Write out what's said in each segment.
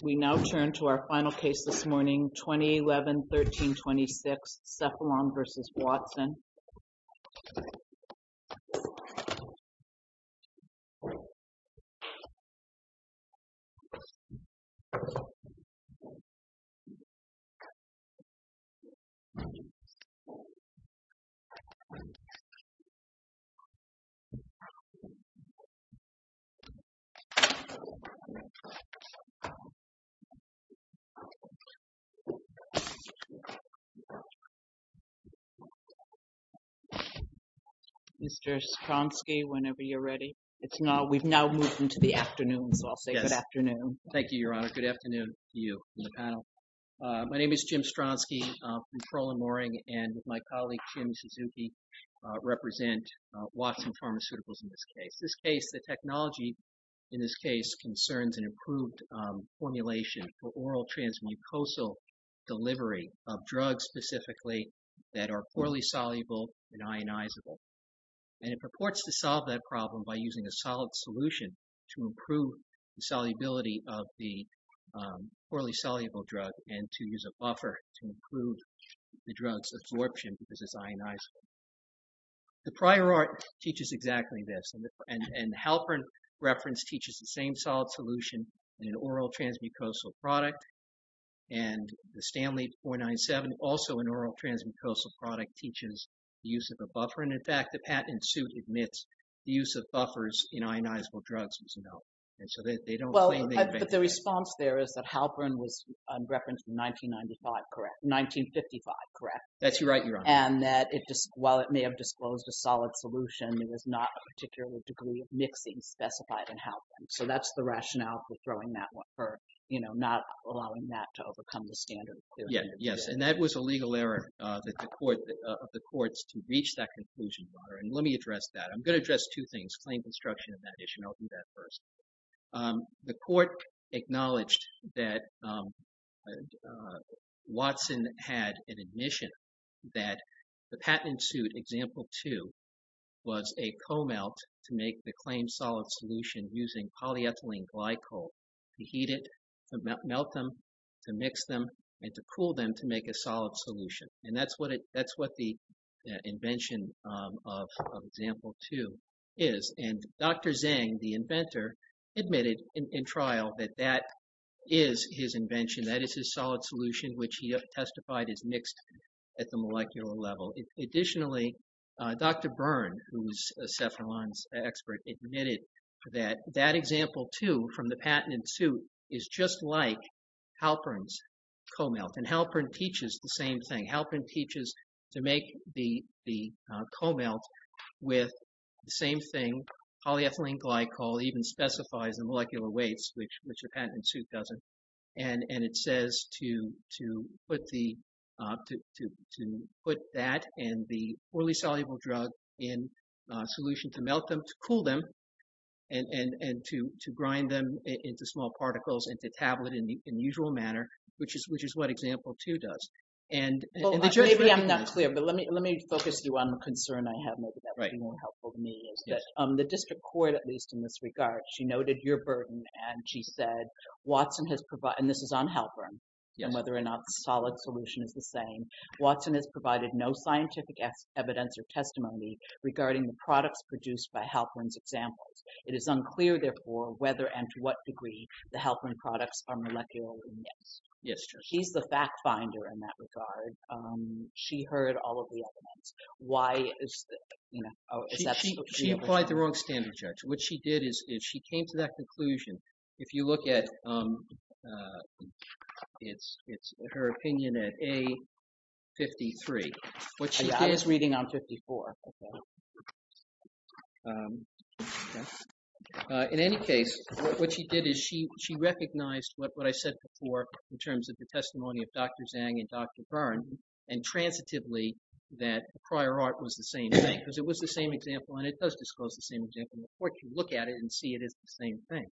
We now turn to our final case this morning, 2011-13-26, CEPHALON v. WATSON. The case is CEPHALON v. WATSON. Mr. Stronsky, whenever you're ready. We've now moved into the afternoon, so I'll say good afternoon. Thank you, Your Honor. Good afternoon to you and the panel. My name is Jim Stronsky. I'm from Crowell and Mooring and with my colleague, Jim Suzuki, represent Watson Pharmaceuticals in this case. The technology in this case concerns an improved formulation for oral transmucosal delivery of drugs specifically that are poorly soluble and ionizable. And it purports to solve that problem by using a solid solution to improve the solubility of the poorly soluble drug and to use a buffer to improve the drug's absorption because it's ionizable. The prior art teaches exactly this. And the Halperin reference teaches the same solid solution in an oral transmucosal product. And the Stanley 497, also an oral transmucosal product, teaches the use of a buffer. And in fact, the patent suit admits the use of buffers in ionizable drugs was no. And so they don't claim they invented it. Well, but the response there is that Halperin was referenced in 1995, correct? 1955, correct? That's right, Your Honor. And that while it may have disclosed a solid solution, there was not a particular degree of mixing specified in Halperin. So that's the rationale for throwing that one, for not allowing that to overcome the standard. Yes, and that was a legal error of the courts to reach that conclusion, Your Honor. And let me address that. I'm going to address two things, claim construction and that issue, and I'll do that first. The court acknowledged that Watson had an admission that the patent suit, example two, was a co-melt to make the claimed solid solution using polyethylene glycol to heat it, to melt them, to mix them, and to cool them to make a solid solution. And that's what the invention of example two is. And Dr. Zhang, the inventor, admitted in trial that that is his invention. That is his solid solution, which he testified is mixed at the molecular level. Additionally, Dr. Byrne, who was Cephalon's expert, admitted that that example two from the patent suit is just like Halperin's co-melt. And Halperin teaches the same thing. Halperin teaches to make the co-melt with the same thing. Polyethylene glycol even specifies the molecular weights, which the patent suit doesn't. And it says to put that and the poorly soluble drug in solution to melt them, to cool them, and to grind them into small particles, into tablet in the usual manner, which is what example two does. Maybe I'm not clear, but let me focus you on the concern I have. Maybe that would be more helpful to me. The district court, at least in this regard, she noted your burden, and she said, and this is on Halperin, and whether or not the solid solution is the same. Watson has provided no scientific evidence or testimony regarding the products produced by Halperin's examples. It is unclear, therefore, whether and to what degree the Halperin products are molecularly mixed. He's the fact finder in that regard. She heard all of the evidence. Why is that? She applied the wrong standard, Judge. What she did is she came to that conclusion. If you look at her opinion at A53. I was reading on 54. In any case, what she did is she recognized what I said before in terms of the testimony of Dr. Zhang and Dr. Byrne, and transitively that prior art was the same thing, because it was the same example, and it does disclose the same example. The court can look at it and see it is the same thing.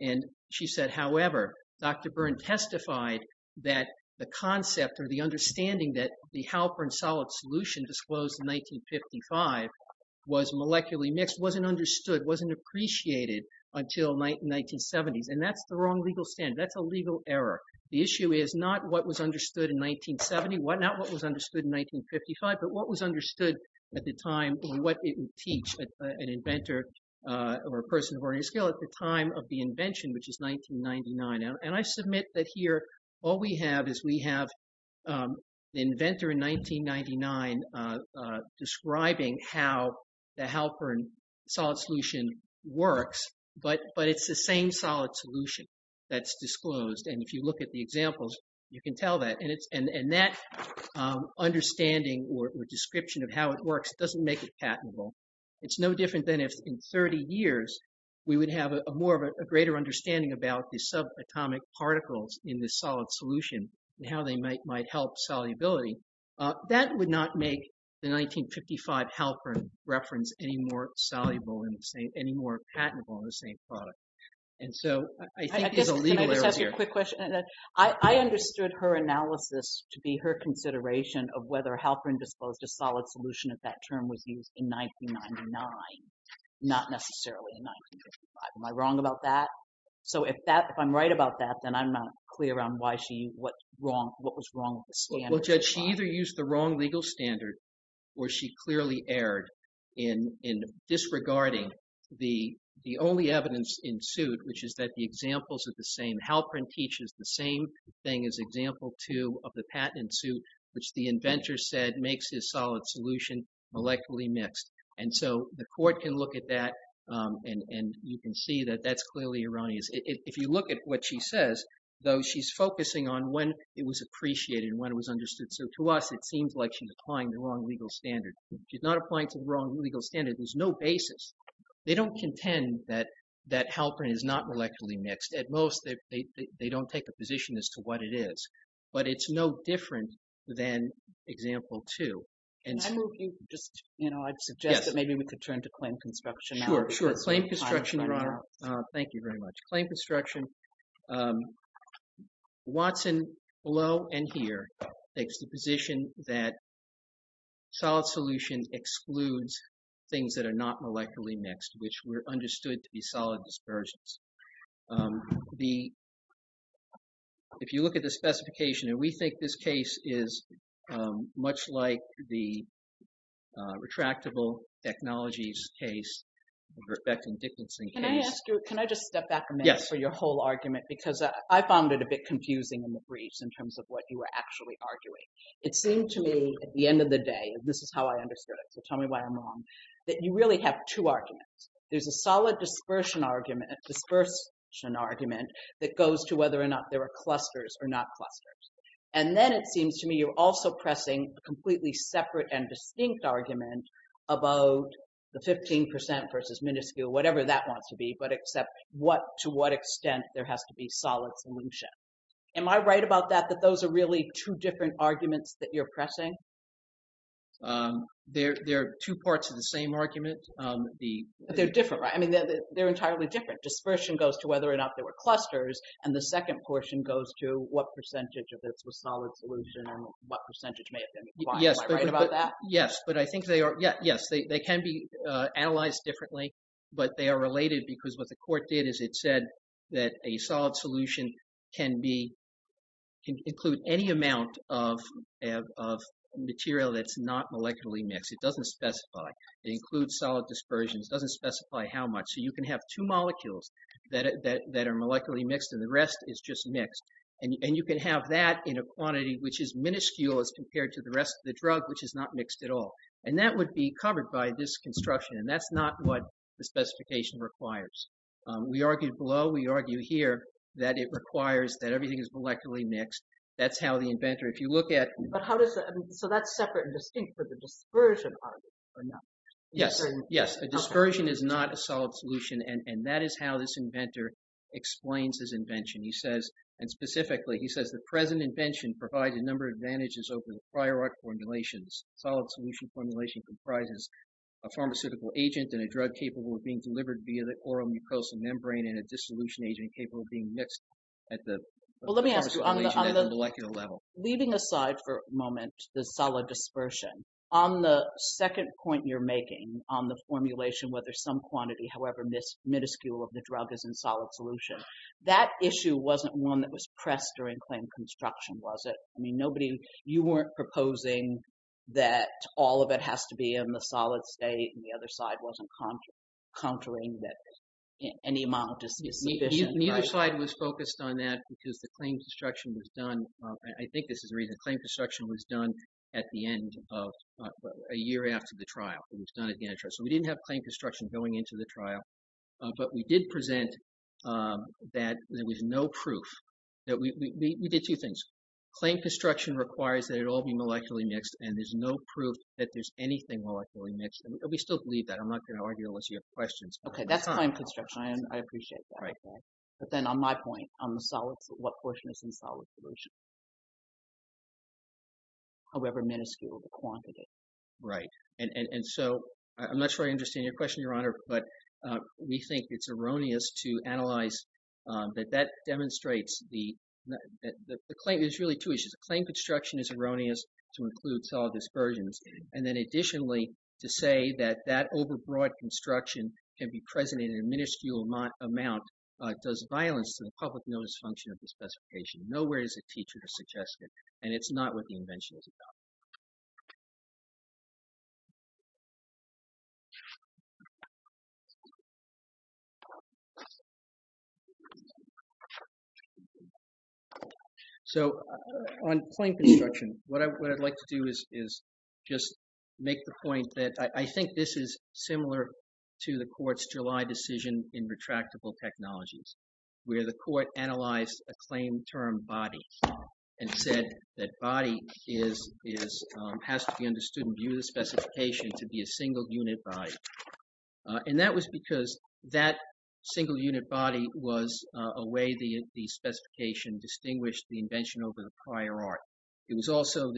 And she said, however, Dr. Byrne testified that the concept or the understanding that the Halperin solid solution disclosed in 1955 was molecularly mixed wasn't understood, wasn't appreciated until 1970s, and that's the wrong legal standard. That's a legal error. The issue is not what was understood in 1970, not what was understood in 1955, but what was understood at the time and what it would teach an inventor or a person of ordinary skill at the time of the invention, which is 1999. And I submit that here all we have is we have the inventor in 1999 describing how the Halperin solid solution works, but it's the same solid solution that's disclosed. And if you look at the examples, you can tell that. And that understanding or description of how it works doesn't make it patentable. It's no different than if in 30 years we would have more of a greater understanding about the subatomic particles in the solid solution and how they might help solubility. That would not make the 1955 Halperin reference any more patentable in the same product. And so I think there's a legal error here. I understood her analysis to be her consideration of whether Halperin disclosed a solid solution if that term was used in 1999, not necessarily in 1955. Am I wrong about that? So if I'm right about that, then I'm not clear on what was wrong with the standards. And so the court can look at that. And you can see that that's clearly Erania's. If you look at what she says, though, she's focusing on when it was appreciated and when it was understood. So to us, it seems like she's applying the wrong standards. She's not applying to the wrong legal standard. There's no basis. They don't contend that Halperin is not intellectually mixed. At most, they don't take a position as to what it is. But it's no different than example two. And so if you just, you know, I'd suggest that maybe we could turn to claim construction now. Sure, sure. Claim construction, Your Honor. Thank you very much. Claim construction. Watson, below and here, takes the position that solid solution excludes things that are not molecularly mixed, which were understood to be solid dispersions. If you look at the specification, and we think this case is much like the retractable technologies case, the Verbeck and Dickinson case. Can I just step back a minute for your whole argument? Because I found it a bit confusing in the briefs in terms of what you were actually arguing. It seemed to me at the end of the day, and this is how I understood it, so tell me why I'm wrong, that you really have two arguments. There's a solid dispersion argument that goes to whether or not there are clusters or not clusters. And then it seems to me you're also pressing a completely separate and distinct argument about the 15% versus minuscule, whatever that wants to be, but except what, to what extent there has to be solid solution. Am I right about that, that those are really two different arguments that you're pressing? There are two parts of the same argument. But they're different, right? I mean, they're entirely different. Dispersion goes to whether or not there were clusters, and the second portion goes to what percentage of this was solid solution and what percentage may have been acquired. Am I right about that? Yes, but I think they can be analyzed differently, but they are related because what the court did is it said that a solid solution can include any amount of material that's not molecularly mixed. It doesn't specify. It includes solid dispersions. It doesn't specify how much. So you can have two molecules that are molecularly mixed, and the rest is just mixed. And you can have that in a quantity which is minuscule as compared to the rest of the drug, which is not mixed at all. And that would be covered by this construction, and that's not what the specification requires. We argued below. We argue here that it requires that everything is molecularly mixed. So that's separate and distinct for the dispersion argument, or not? Yes, yes. A dispersion is not a solid solution, and that is how this inventor explains his invention. He says, and specifically, he says, the present invention provides a number of advantages over the prior art formulations. Solid solution formulation comprises a pharmaceutical agent and a drug capable of being delivered via the oral mucosal membrane and a dissolution agent capable of being mixed at the… Well, let me ask you, leaving aside for a moment the solid dispersion, on the second point you're making on the formulation, whether some quantity, however minuscule of the drug, is in solid solution, that issue wasn't one that was pressed during claim construction, was it? I mean, nobody, you weren't proposing that all of it has to be in the solid state, and the other side wasn't countering that any amount is sufficient. The other side was focused on that because the claim construction was done. I think this is the reason. Claim construction was done at the end of a year after the trial. It was done at the end of the trial. So we didn't have claim construction going into the trial, but we did present that there was no proof. We did two things. Claim construction requires that it all be molecularly mixed, and there's no proof that there's anything molecularly mixed. We still believe that. I'm not going to argue unless you have questions. Okay, that's claim construction. I appreciate that. But then on my point, what portion is in solid solution, however minuscule the quantity? Right, and so I'm not sure I understand your question, Your Honor, but we think it's erroneous to analyze that that demonstrates the claim. There's really two issues. Claim construction is erroneous to include solid dispersions, and then additionally to say that that overbroad construction can be present in a minuscule amount does violence to the public notice function of the specification. Nowhere is a teacher has suggested, and it's not what the invention is about. So on claim construction, what I'd like to do is just make the point that I think this is similar to the court's July decision in retractable technologies, where the court analyzed a claim term body and said that body has to be understood in view of the specification to be a single unit body. And that was because that single unit body was a way the specification distinguished the invention over the prior art. It was also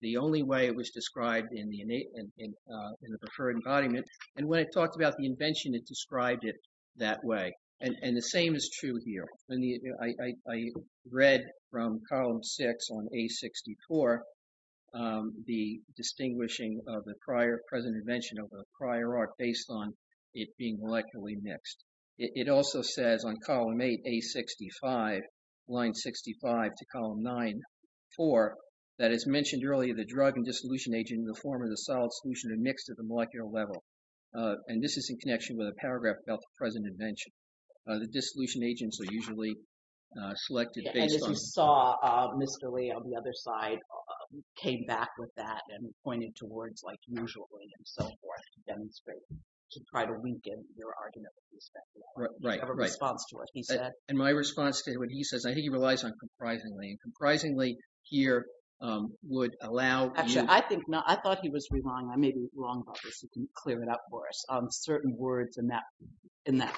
the only way it was described in the preferred embodiment, and when I talked about the invention, it described it that way. And the same is true here. I read from column six on A64 the distinguishing of the prior present invention over the prior art based on it being molecularly mixed. It also says on column eight, A65, line 65 to column nine, four, that it's mentioned earlier the drug and dissolution agent in the form of the solid solution are mixed at the molecular level. And this is in connection with a paragraph about the present invention. The dissolution agents are usually selected based on- And as you saw, Mr. Lee on the other side came back with that and pointed to words like usually and so forth to demonstrate, to try to weaken your argument with respect to that. Right, right. You have a response to what he said. And my response to what he says, I think he relies on comprisingly, and comprisingly here would allow you- Certain words in that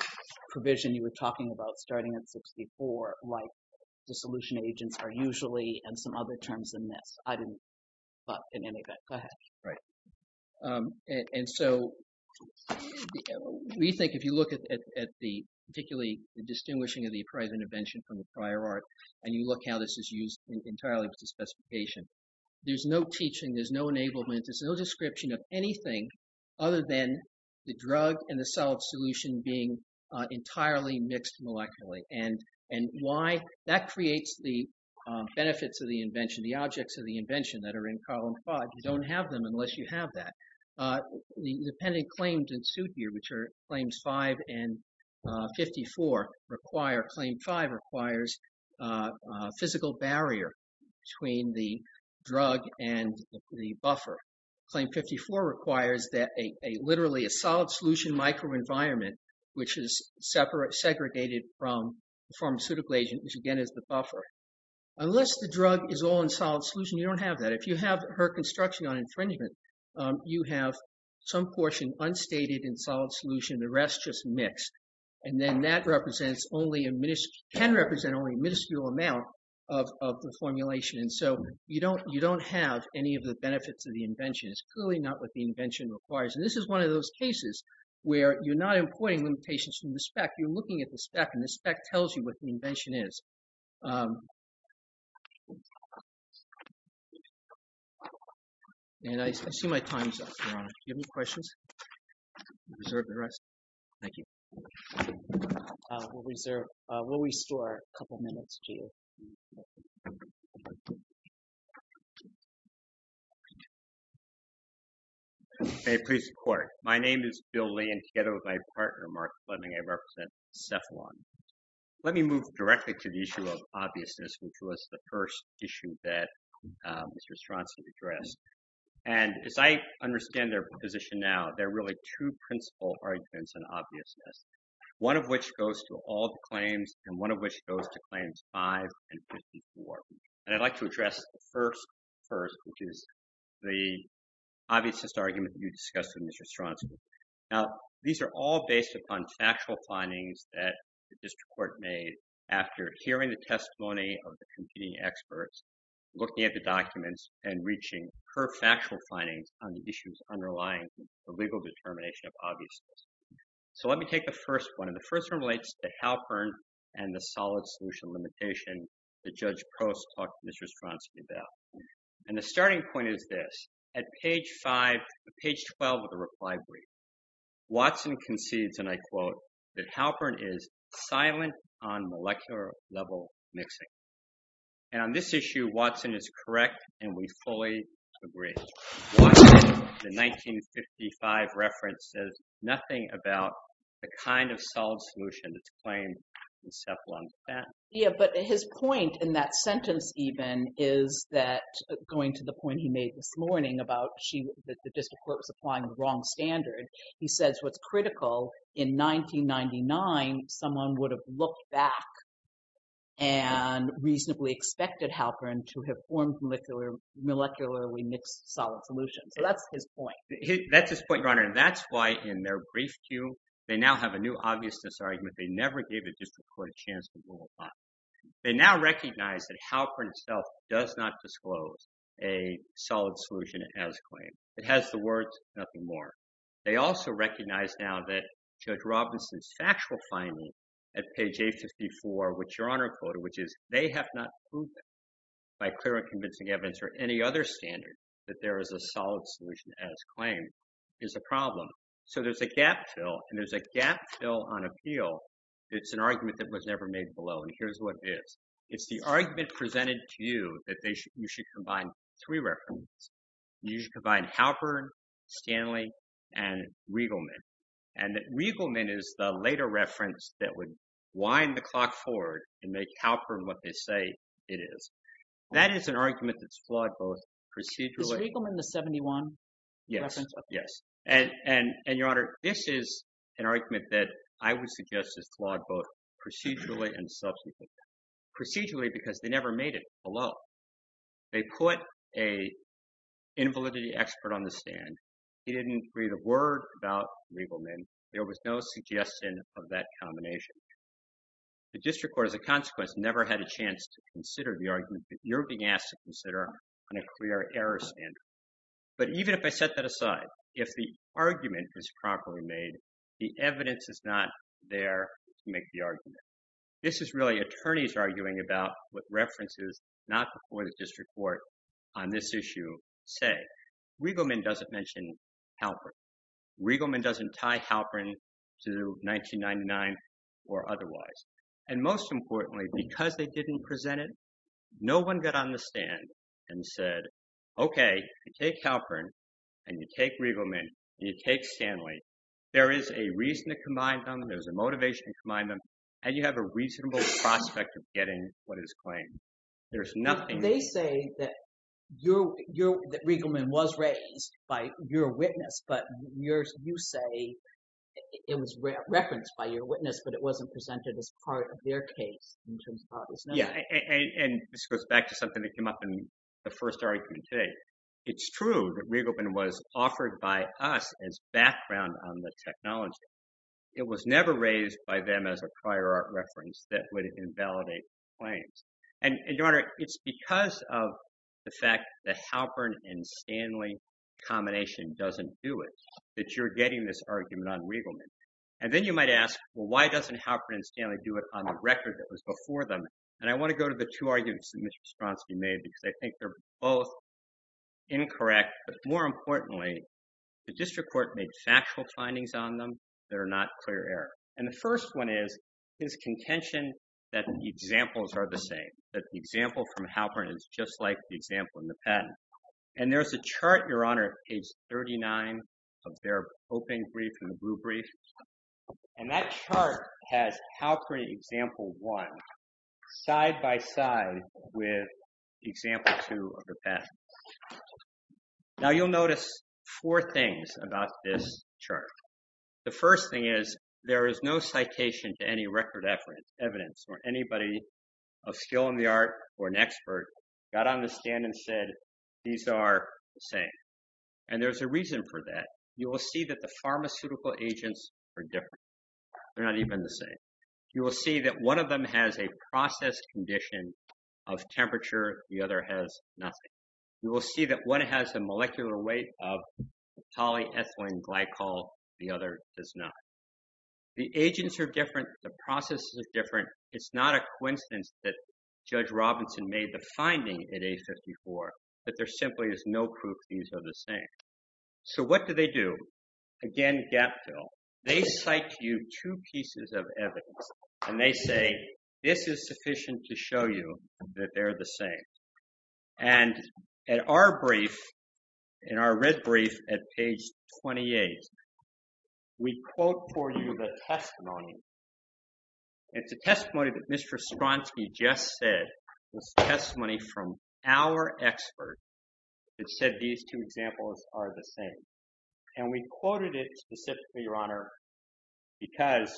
provision you were talking about starting at 64, like dissolution agents are usually and some other terms than this. I didn't, but in any event, go ahead. Right. And so we think if you look at the particularly distinguishing of the present invention from the prior art, and you look how this is used entirely with the specification, there's no teaching, there's no enablement, there's no description of anything other than the drug and the solid solution being entirely mixed molecularly. And why? That creates the benefits of the invention, the objects of the invention that are in column five. You don't have them unless you have that. The pending claims in suit here, which are claims five and 54, claim five requires a physical barrier between the drug and the buffer. Claim 54 requires literally a solid solution microenvironment, which is segregated from the pharmaceutical agent, which again is the buffer. Unless the drug is all in solid solution, you don't have that. If you have her construction on infringement, you have some portion unstated in solid solution, the rest just mixed. And then that can represent only a minuscule amount of the formulation. And so you don't have any of the benefits of the invention. It's clearly not what the invention requires. And this is one of those cases where you're not importing limitations from the spec, you're looking at the spec and the spec tells you what the invention is. And I see my time is up, Your Honor. Do you have any questions? Reserve the rest. Thank you. We'll reserve. Will we store a couple minutes to. Please report. My name is Bill Lee and together with my partner, Mark Fleming, I represent Cephalon. Let me move directly to the issue of obviousness, which was the first issue that Mr. Stronsky addressed. And as I understand their position now, there are really two principal arguments and obviousness, one of which goes to all the claims and one of which goes to claims five and 54. And I'd like to address the first first, which is the obviousness argument you discussed with Mr. Stronsky. Now, these are all based upon factual findings that the district court made after hearing the testimony of the competing experts, looking at the documents and reaching her factual findings on the issues underlying the legal determination of obviousness. So let me take the first one. And the first one relates to Halpern and the solid solution limitation that Judge Post talked to Mr. Stronsky about. And the starting point is this. At page five, page 12 of the reply brief, Watson concedes, and I quote that Halpern is silent on molecular level mixing. And on this issue, Watson is correct and we fully agree. The 1955 reference says nothing about the kind of solid solution that's claimed in Cephalon's patent. Yeah, but his point in that sentence even is that going to the point he made this morning about the district court was applying the wrong standard. He says what's critical in 1999, someone would have looked back and reasonably expected Halpern to have formed molecular molecularly mixed solid solution. So that's his point. That's his point, Your Honor. And that's why in their brief queue, they now have a new obviousness argument. They never gave a district court a chance to rule. They now recognize that Halpern itself does not disclose a solid solution as claimed. It has the words nothing more. They also recognize now that Judge Robinson's factual finding at page 854, which Your Honor quoted, which is they have not proven by clear and convincing evidence or any other standard that there is a solid solution as claimed is a problem. So there's a gap fill and there's a gap fill on appeal. It's an argument that was never made below. And here's what it is. It's the argument presented to you that you should combine three references. You should combine Halpern, Stanley, and Riegelman. And Riegelman is the later reference that would wind the clock forward and make Halpern what they say it is. That is an argument that's flawed both procedurally. Is Riegelman the 71 reference? Yes. And Your Honor, this is an argument that I would suggest is flawed both procedurally and subsequently. Procedurally because they never made it below. They put a invalidity expert on the stand. He didn't read a word about Riegelman. There was no suggestion of that combination. The district court, as a consequence, never had a chance to consider the argument that you're being asked to consider on a clear error standard. But even if I set that aside, if the argument is properly made, the evidence is not there to make the argument. This is really attorneys arguing about what references not before the district court on this issue say. Riegelman doesn't mention Halpern. Riegelman doesn't tie Halpern to 1999 or otherwise. And most importantly, because they didn't present it, no one got on the stand and said, OK, you take Halpern and you take Riegelman and you take Stanley. There is a reason to combine them. There's a motivation to combine them. And you have a reasonable prospect of getting what is claimed. There's nothing— They say that Riegelman was raised by your witness, but you say it was referenced by your witness, but it wasn't presented as part of their case. Yeah, and this goes back to something that came up in the first argument today. It's true that Riegelman was offered by us as background on the technology. It was never raised by them as a prior art reference that would invalidate claims. And, Your Honor, it's because of the fact that Halpern and Stanley combination doesn't do it that you're getting this argument on Riegelman. And then you might ask, well, why doesn't Halpern and Stanley do it on the record that was before them? And I want to go to the two arguments that Mr. Stronsky made because I think they're both incorrect. But more importantly, the district court made factual findings on them that are not clear error. And the first one is his contention that the examples are the same, that the example from Halpern is just like the example in the patent. And there's a chart, Your Honor, page 39 of their opening brief and the blue brief. And that chart has Halpern example one side by side with example two of the patent. Now, you'll notice four things about this chart. The first thing is there is no citation to any record evidence where anybody of skill in the art or an expert got on the stand and said these are the same. And there's a reason for that. You will see that the pharmaceutical agents are different. They're not even the same. You will see that one of them has a process condition of temperature. The other has nothing. You will see that one has a molecular weight of polyethylene glycol. The other does not. The agents are different. The processes are different. It's not a coincidence that Judge Robinson made the finding at age 54 that there simply is no proof these are the same. So what do they do? Again, gap fill. They cite to you two pieces of evidence. And they say this is sufficient to show you that they're the same. And at our brief, in our red brief at page 28, we quote for you the testimony. It's a testimony that Mr. Stronsky just said. It's testimony from our expert that said these two examples are the same. And we quoted it specifically, Your Honor, because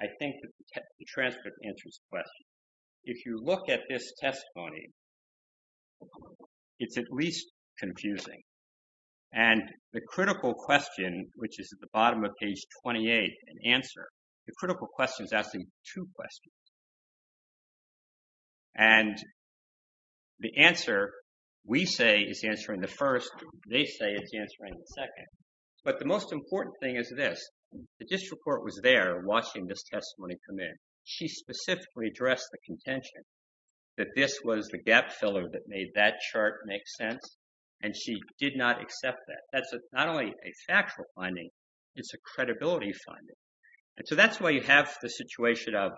I think the transcript answers the question. If you look at this testimony, it's at least confusing. And the critical question, which is at the bottom of page 28, an answer, the critical question is asking two questions. And the answer we say is answering the first. They say it's answering the second. But the most important thing is this. The district court was there watching this testimony come in. She specifically addressed the contention that this was the gap filler that made that chart make sense. And she did not accept that. That's not only a factual finding. It's a credibility finding. And so that's why you have the situation of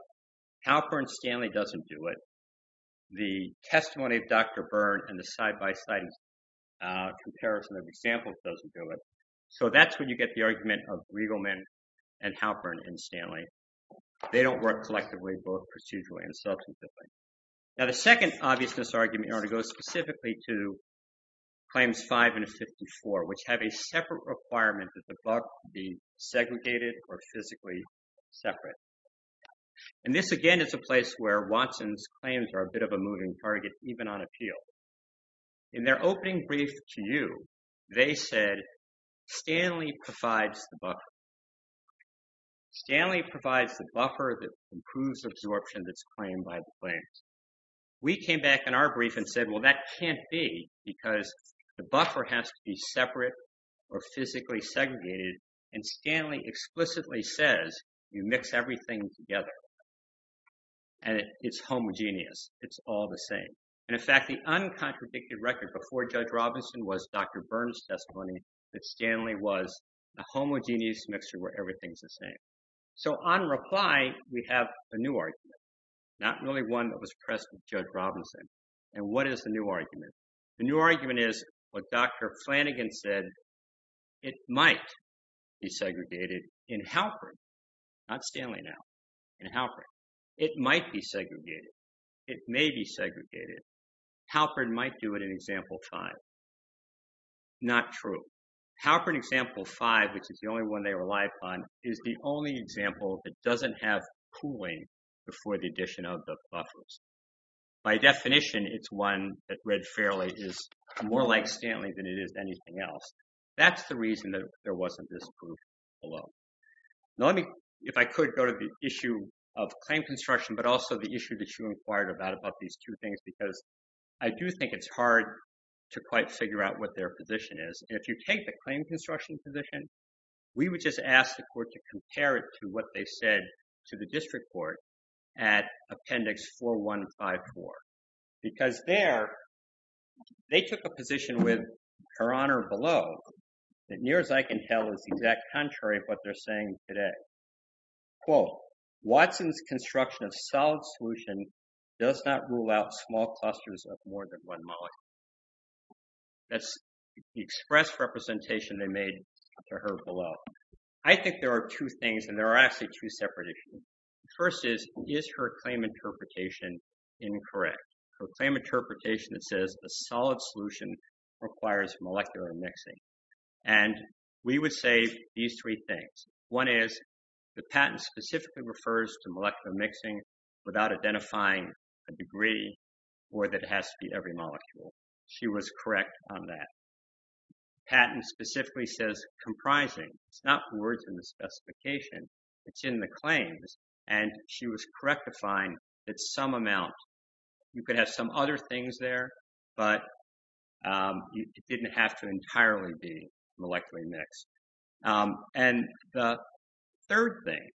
Halpern-Stanley doesn't do it. The testimony of Dr. Byrne and the side-by-side comparison of examples doesn't do it. So that's when you get the argument of Riegelman and Halpern and Stanley. They don't work collectively, both procedurally and substantively. Now, the second obviousness argument, Your Honor, goes specifically to claims 5 and 54, which have a separate requirement that the buck be segregated or physically separate. And this, again, is a place where Watson's claims are a bit of a moving target, even on appeal. In their opening brief to you, they said, Stanley provides the buck. Stanley provides the buffer that improves absorption that's claimed by the claims. We came back in our brief and said, well, that can't be because the buffer has to be separate or physically segregated. And Stanley explicitly says you mix everything together. And it's homogeneous. It's all the same. And in fact, the uncontradicted record before Judge Robinson was Dr. Byrne's testimony that Stanley was a homogeneous mixture where everything's the same. So on reply, we have a new argument, not really one that was pressed with Judge Robinson. And what is the new argument? The new argument is what Dr. Flanagan said. It might be segregated in Halpern, not Stanley now, in Halpern. It might be segregated. It may be segregated. Halpern might do it in Example 5. Not true. Halpern Example 5, which is the only one they rely upon, is the only example that doesn't have pooling before the addition of the buffers. By definition, it's one that read fairly is more like Stanley than it is anything else. That's the reason that there wasn't this proof below. If I could go to the issue of claim construction, but also the issue that you inquired about, about these two things, because I do think it's hard to quite figure out what their position is. If you take the claim construction position, we would just ask the court to compare it to what they said to the district court at Appendix 4154. Because there, they took a position with her honor below that near as I can tell is the exact contrary of what they're saying today. Quote, Watson's construction of solid solution does not rule out small clusters of more than one molecule. That's the express representation they made to her below. I think there are two things, and there are actually two separate issues. First is, is her claim interpretation incorrect? Her claim interpretation that says a solid solution requires molecular mixing. And we would say these three things. One is, the patent specifically refers to molecular mixing without identifying a degree or that it has to be every molecule. She was correct on that. Patent specifically says comprising. It's not words in the specification. It's in the claims. And she was correct to find that some amount, you could have some other things there, but it didn't have to entirely be molecularly mixed. And the third thing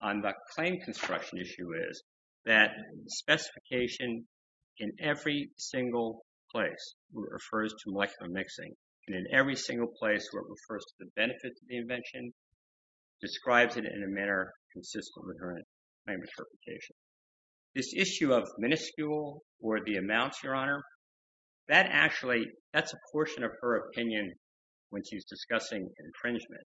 on the claim construction issue is that specification in every single place refers to molecular mixing. And in every single place where it refers to the benefits of the invention, describes it in a manner consistent with her claim interpretation. This issue of minuscule or the amounts, Your Honor, that actually, that's a portion of her opinion when she's discussing infringement.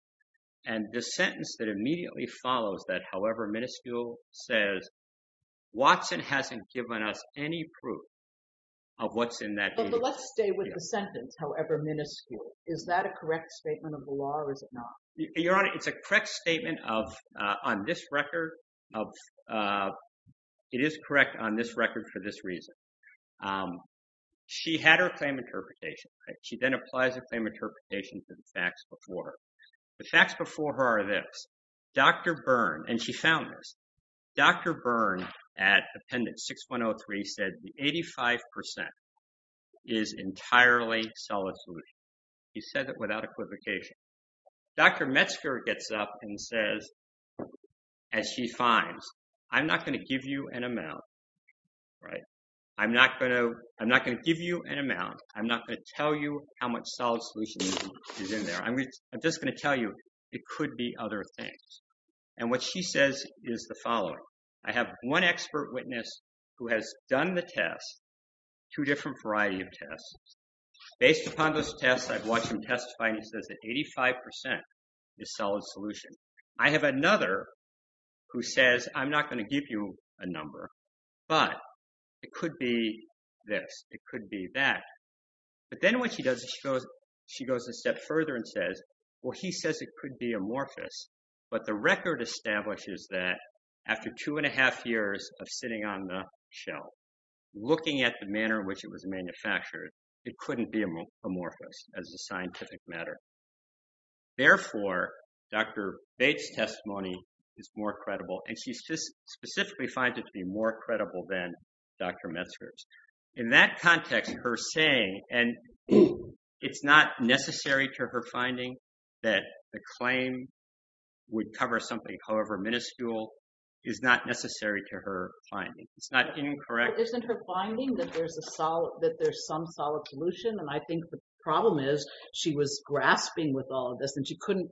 And the sentence that immediately follows that, however minuscule, says Watson hasn't given us any proof of what's in that. Let's stay with the sentence, however minuscule. Is that a correct statement of the law or is it not? Your Honor, it's a correct statement on this record. It is correct on this record for this reason. She had her claim interpretation. She then applies her claim interpretation to the facts before her. The facts before her are this. Dr. Byrne, and she found this, Dr. Byrne at Appendix 6103 said the 85% is entirely solid solution. She said that without equivocation. Dr. Metzger gets up and says, as she finds, I'm not going to give you an amount, right? I'm not going to give you an amount. I'm not going to tell you how much solid solution is in there. I'm just going to tell you it could be other things. And what she says is the following. I have one expert witness who has done the test, two different variety of tests. Based upon those tests, I've watched him testify and he says that 85% is solid solution. I have another who says I'm not going to give you a number, but it could be this. It could be that. But then what she does is she goes a step further and says, well, he says it could be amorphous. But the record establishes that after two and a half years of sitting on the shelf, looking at the manner in which it was manufactured, it couldn't be amorphous as a scientific matter. Therefore, Dr. Bates' testimony is more credible, and she specifically finds it to be more credible than Dr. Metzger's. In that context, her saying, and it's not necessary to her finding that the claim would cover something, however minuscule, is not necessary to her finding. It's not incorrect. Isn't her finding that there's some solid solution? And I think the problem is she was grasping with all of this, and she couldn't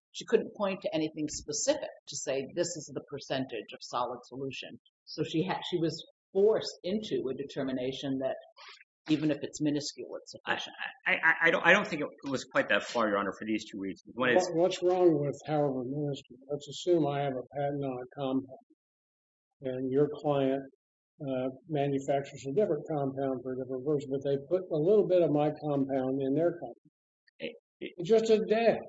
point to anything specific to say this is the percentage of solid solution. So she was forced into a determination that even if it's minuscule, it's sufficient. I don't think it was quite that far, Your Honor, for these two reasons. What's wrong with however minuscule? Let's assume I have a patent on a compound, and your client manufactures a different compound for a different version, but they put a little bit of my compound in their compound. It's just a dab.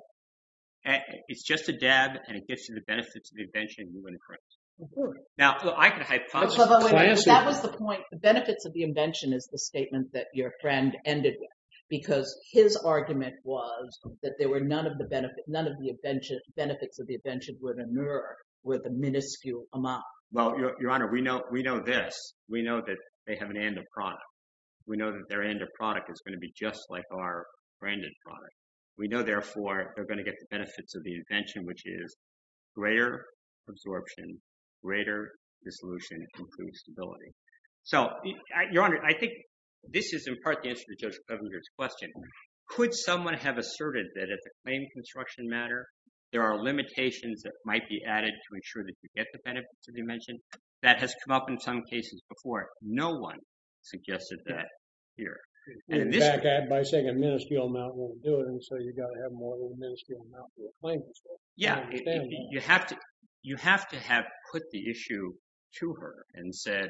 It's just a dab, and it gives you the benefits of the invention. Now, I can hypothesize. That was the point. The benefits of the invention is the statement that your friend ended with because his argument was that none of the benefits of the invention would emerge with a minuscule amount. Well, Your Honor, we know this. We know that they have an end of product. We know that their end of product is going to be just like our branded product. We know, therefore, they're going to get the benefits of the invention, which is greater absorption, greater dissolution, and improved stability. So, Your Honor, I think this is in part the answer to Judge Clevenger's question. Could someone have asserted that at the claim construction matter, there are limitations that might be added to ensure that you get the benefits of the invention? That has come up in some cases before. No one suggested that here. In fact, by saying a minuscule amount wouldn't do it, and so you've got to have more than a minuscule amount for a claim construction. Yeah. You have to have put the issue to her and said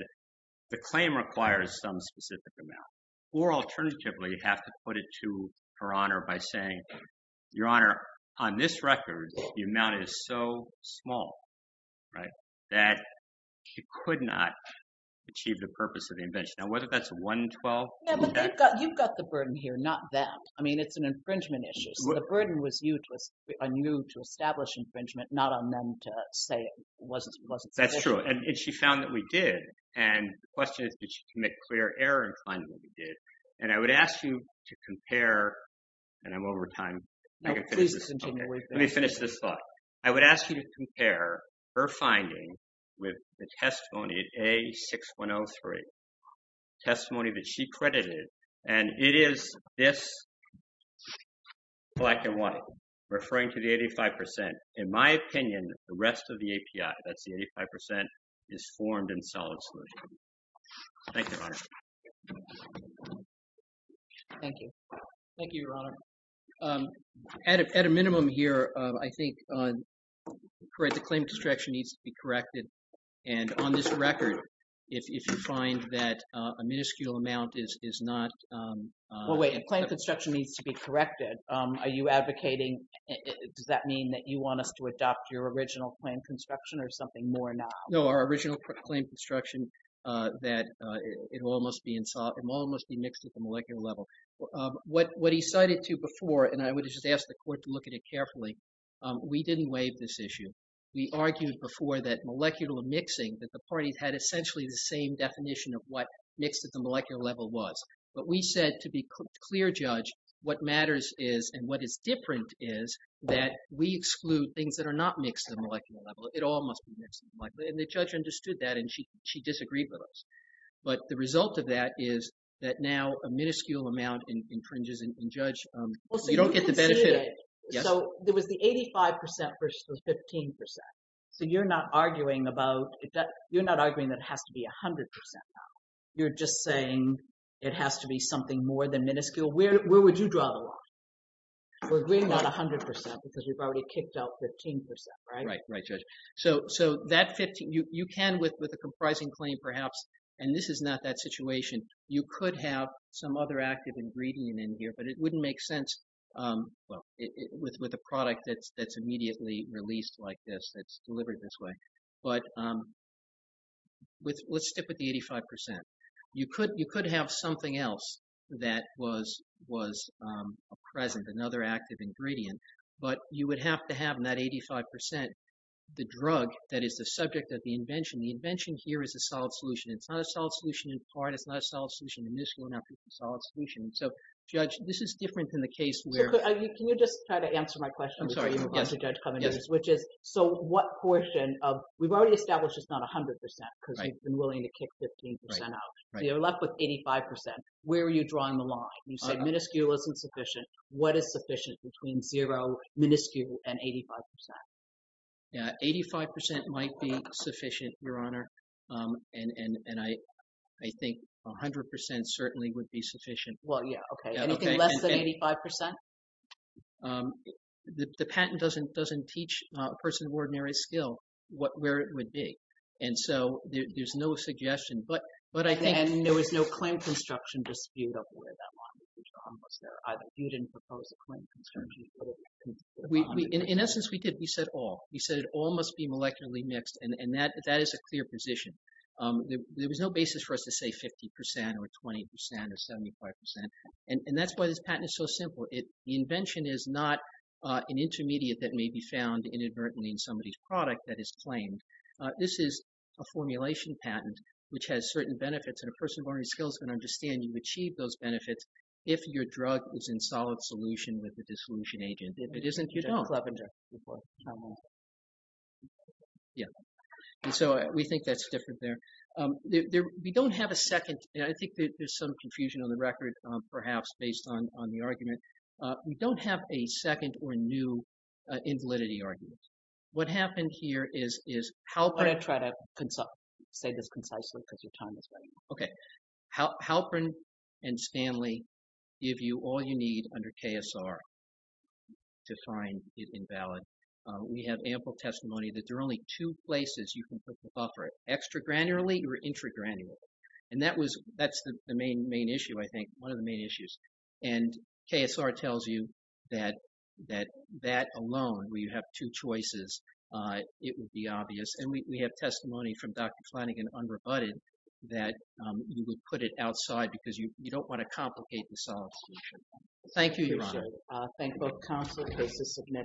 the claim requires some specific amount, or alternatively, you have to put it to Her Honor by saying, Your Honor, on this record, the amount is so small, right, that you could not achieve the purpose of the invention. You've got the burden here, not them. I mean, it's an infringement issue, so the burden was on you to establish infringement, not on them to say it wasn't sufficient. That's true, and she found that we did, and the question is, did she commit clear error in finding what we did? And I would ask you to compare, and I'm over time. No, please continue. Let me finish this thought. I would ask you to compare her finding with the testimony, A6103, testimony that she credited, and it is this black and white, referring to the 85%. In my opinion, the rest of the API, that's the 85%, is formed in solid solution. Thank you, Your Honor. Thank you. Thank you, Your Honor. At a minimum here, I think the claim construction needs to be corrected, and on this record, if you find that a minuscule amount is not… Well, wait. The claim construction needs to be corrected. Are you advocating, does that mean that you want us to adopt your original claim construction or something more now? No, our original claim construction, that it all must be mixed at the molecular level. What he cited to before, and I would just ask the court to look at it carefully, we didn't waive this issue. We argued before that molecular mixing, that the parties had essentially the same definition of what mixed at the molecular level was. But we said, to be a clear judge, what matters is and what is different is that we exclude things that are not mixed at the molecular level. It all must be mixed at the molecular level, and the judge understood that, and she disagreed with us. But the result of that is that now a minuscule amount infringes, and judge, you don't get the benefit of it. So there was the 85% versus the 15%. So you're not arguing that it has to be 100% now. You're just saying it has to be something more than minuscule. Where would you draw the line? We're agreeing on 100% because we've already kicked out 15%, right? Right, right, judge. So you can, with a comprising claim perhaps, and this is not that situation, you could have some other active ingredient in here, but it wouldn't make sense with a product that's immediately released like this, that's delivered this way. But let's stick with the 85%. You could have something else that was present, another active ingredient, but you would have to have in that 85% the drug that is the subject of the invention. The invention here is a solid solution. It's not a solid solution in part. It's not a solid solution in minuscule. It's not a solid solution. And so, judge, this is different than the case where – So can you just try to answer my question before you – I'm sorry, yes. – have the judge come in, which is, so what portion of – we've already established it's not 100% because we've been willing to kick 15% out. Right, right. So you're left with 85%. Where are you drawing the line? You said minuscule isn't sufficient. What is sufficient between zero, minuscule, and 85%? Yeah, 85% might be sufficient, Your Honor. And I think 100% certainly would be sufficient. Well, yeah, okay. Anything less than 85%? The patent doesn't teach a person of ordinary skill where it would be. And so there's no suggestion. But I think – And there was no claim construction dispute of where that line would be. You didn't propose a claim construction dispute. In essence, we did. We said all. We said all must be molecularly mixed, and that is a clear position. There was no basis for us to say 50% or 20% or 75%, and that's why this patent is so simple. The invention is not an intermediate that may be found inadvertently in somebody's product that is claimed. This is a formulation patent, which has certain benefits, and a person of ordinary skill is going to understand when you achieve those benefits if your drug is in solid solution with the dissolution agent. If it isn't, you don't. Clevenger. Yeah. And so we think that's different there. We don't have a second – and I think there's some confusion on the record, perhaps, based on the argument. We don't have a second or new invalidity argument. What happened here is Halpern – I'm going to try to say this concisely because your time is running out. Okay. Halpern and Stanley give you all you need under KSR to find it invalid. We have ample testimony that there are only two places you can put the buffer, extra-granularly or intra-granularly. And that's the main issue, I think, one of the main issues. And KSR tells you that that alone, where you have two choices, it would be obvious. And we have testimony from Dr. Flanagan, unrebutted, that you would put it outside because you don't want to complicate the solid solution. Thank you, Your Honor. Appreciate it. Thank both counsel. This is significant.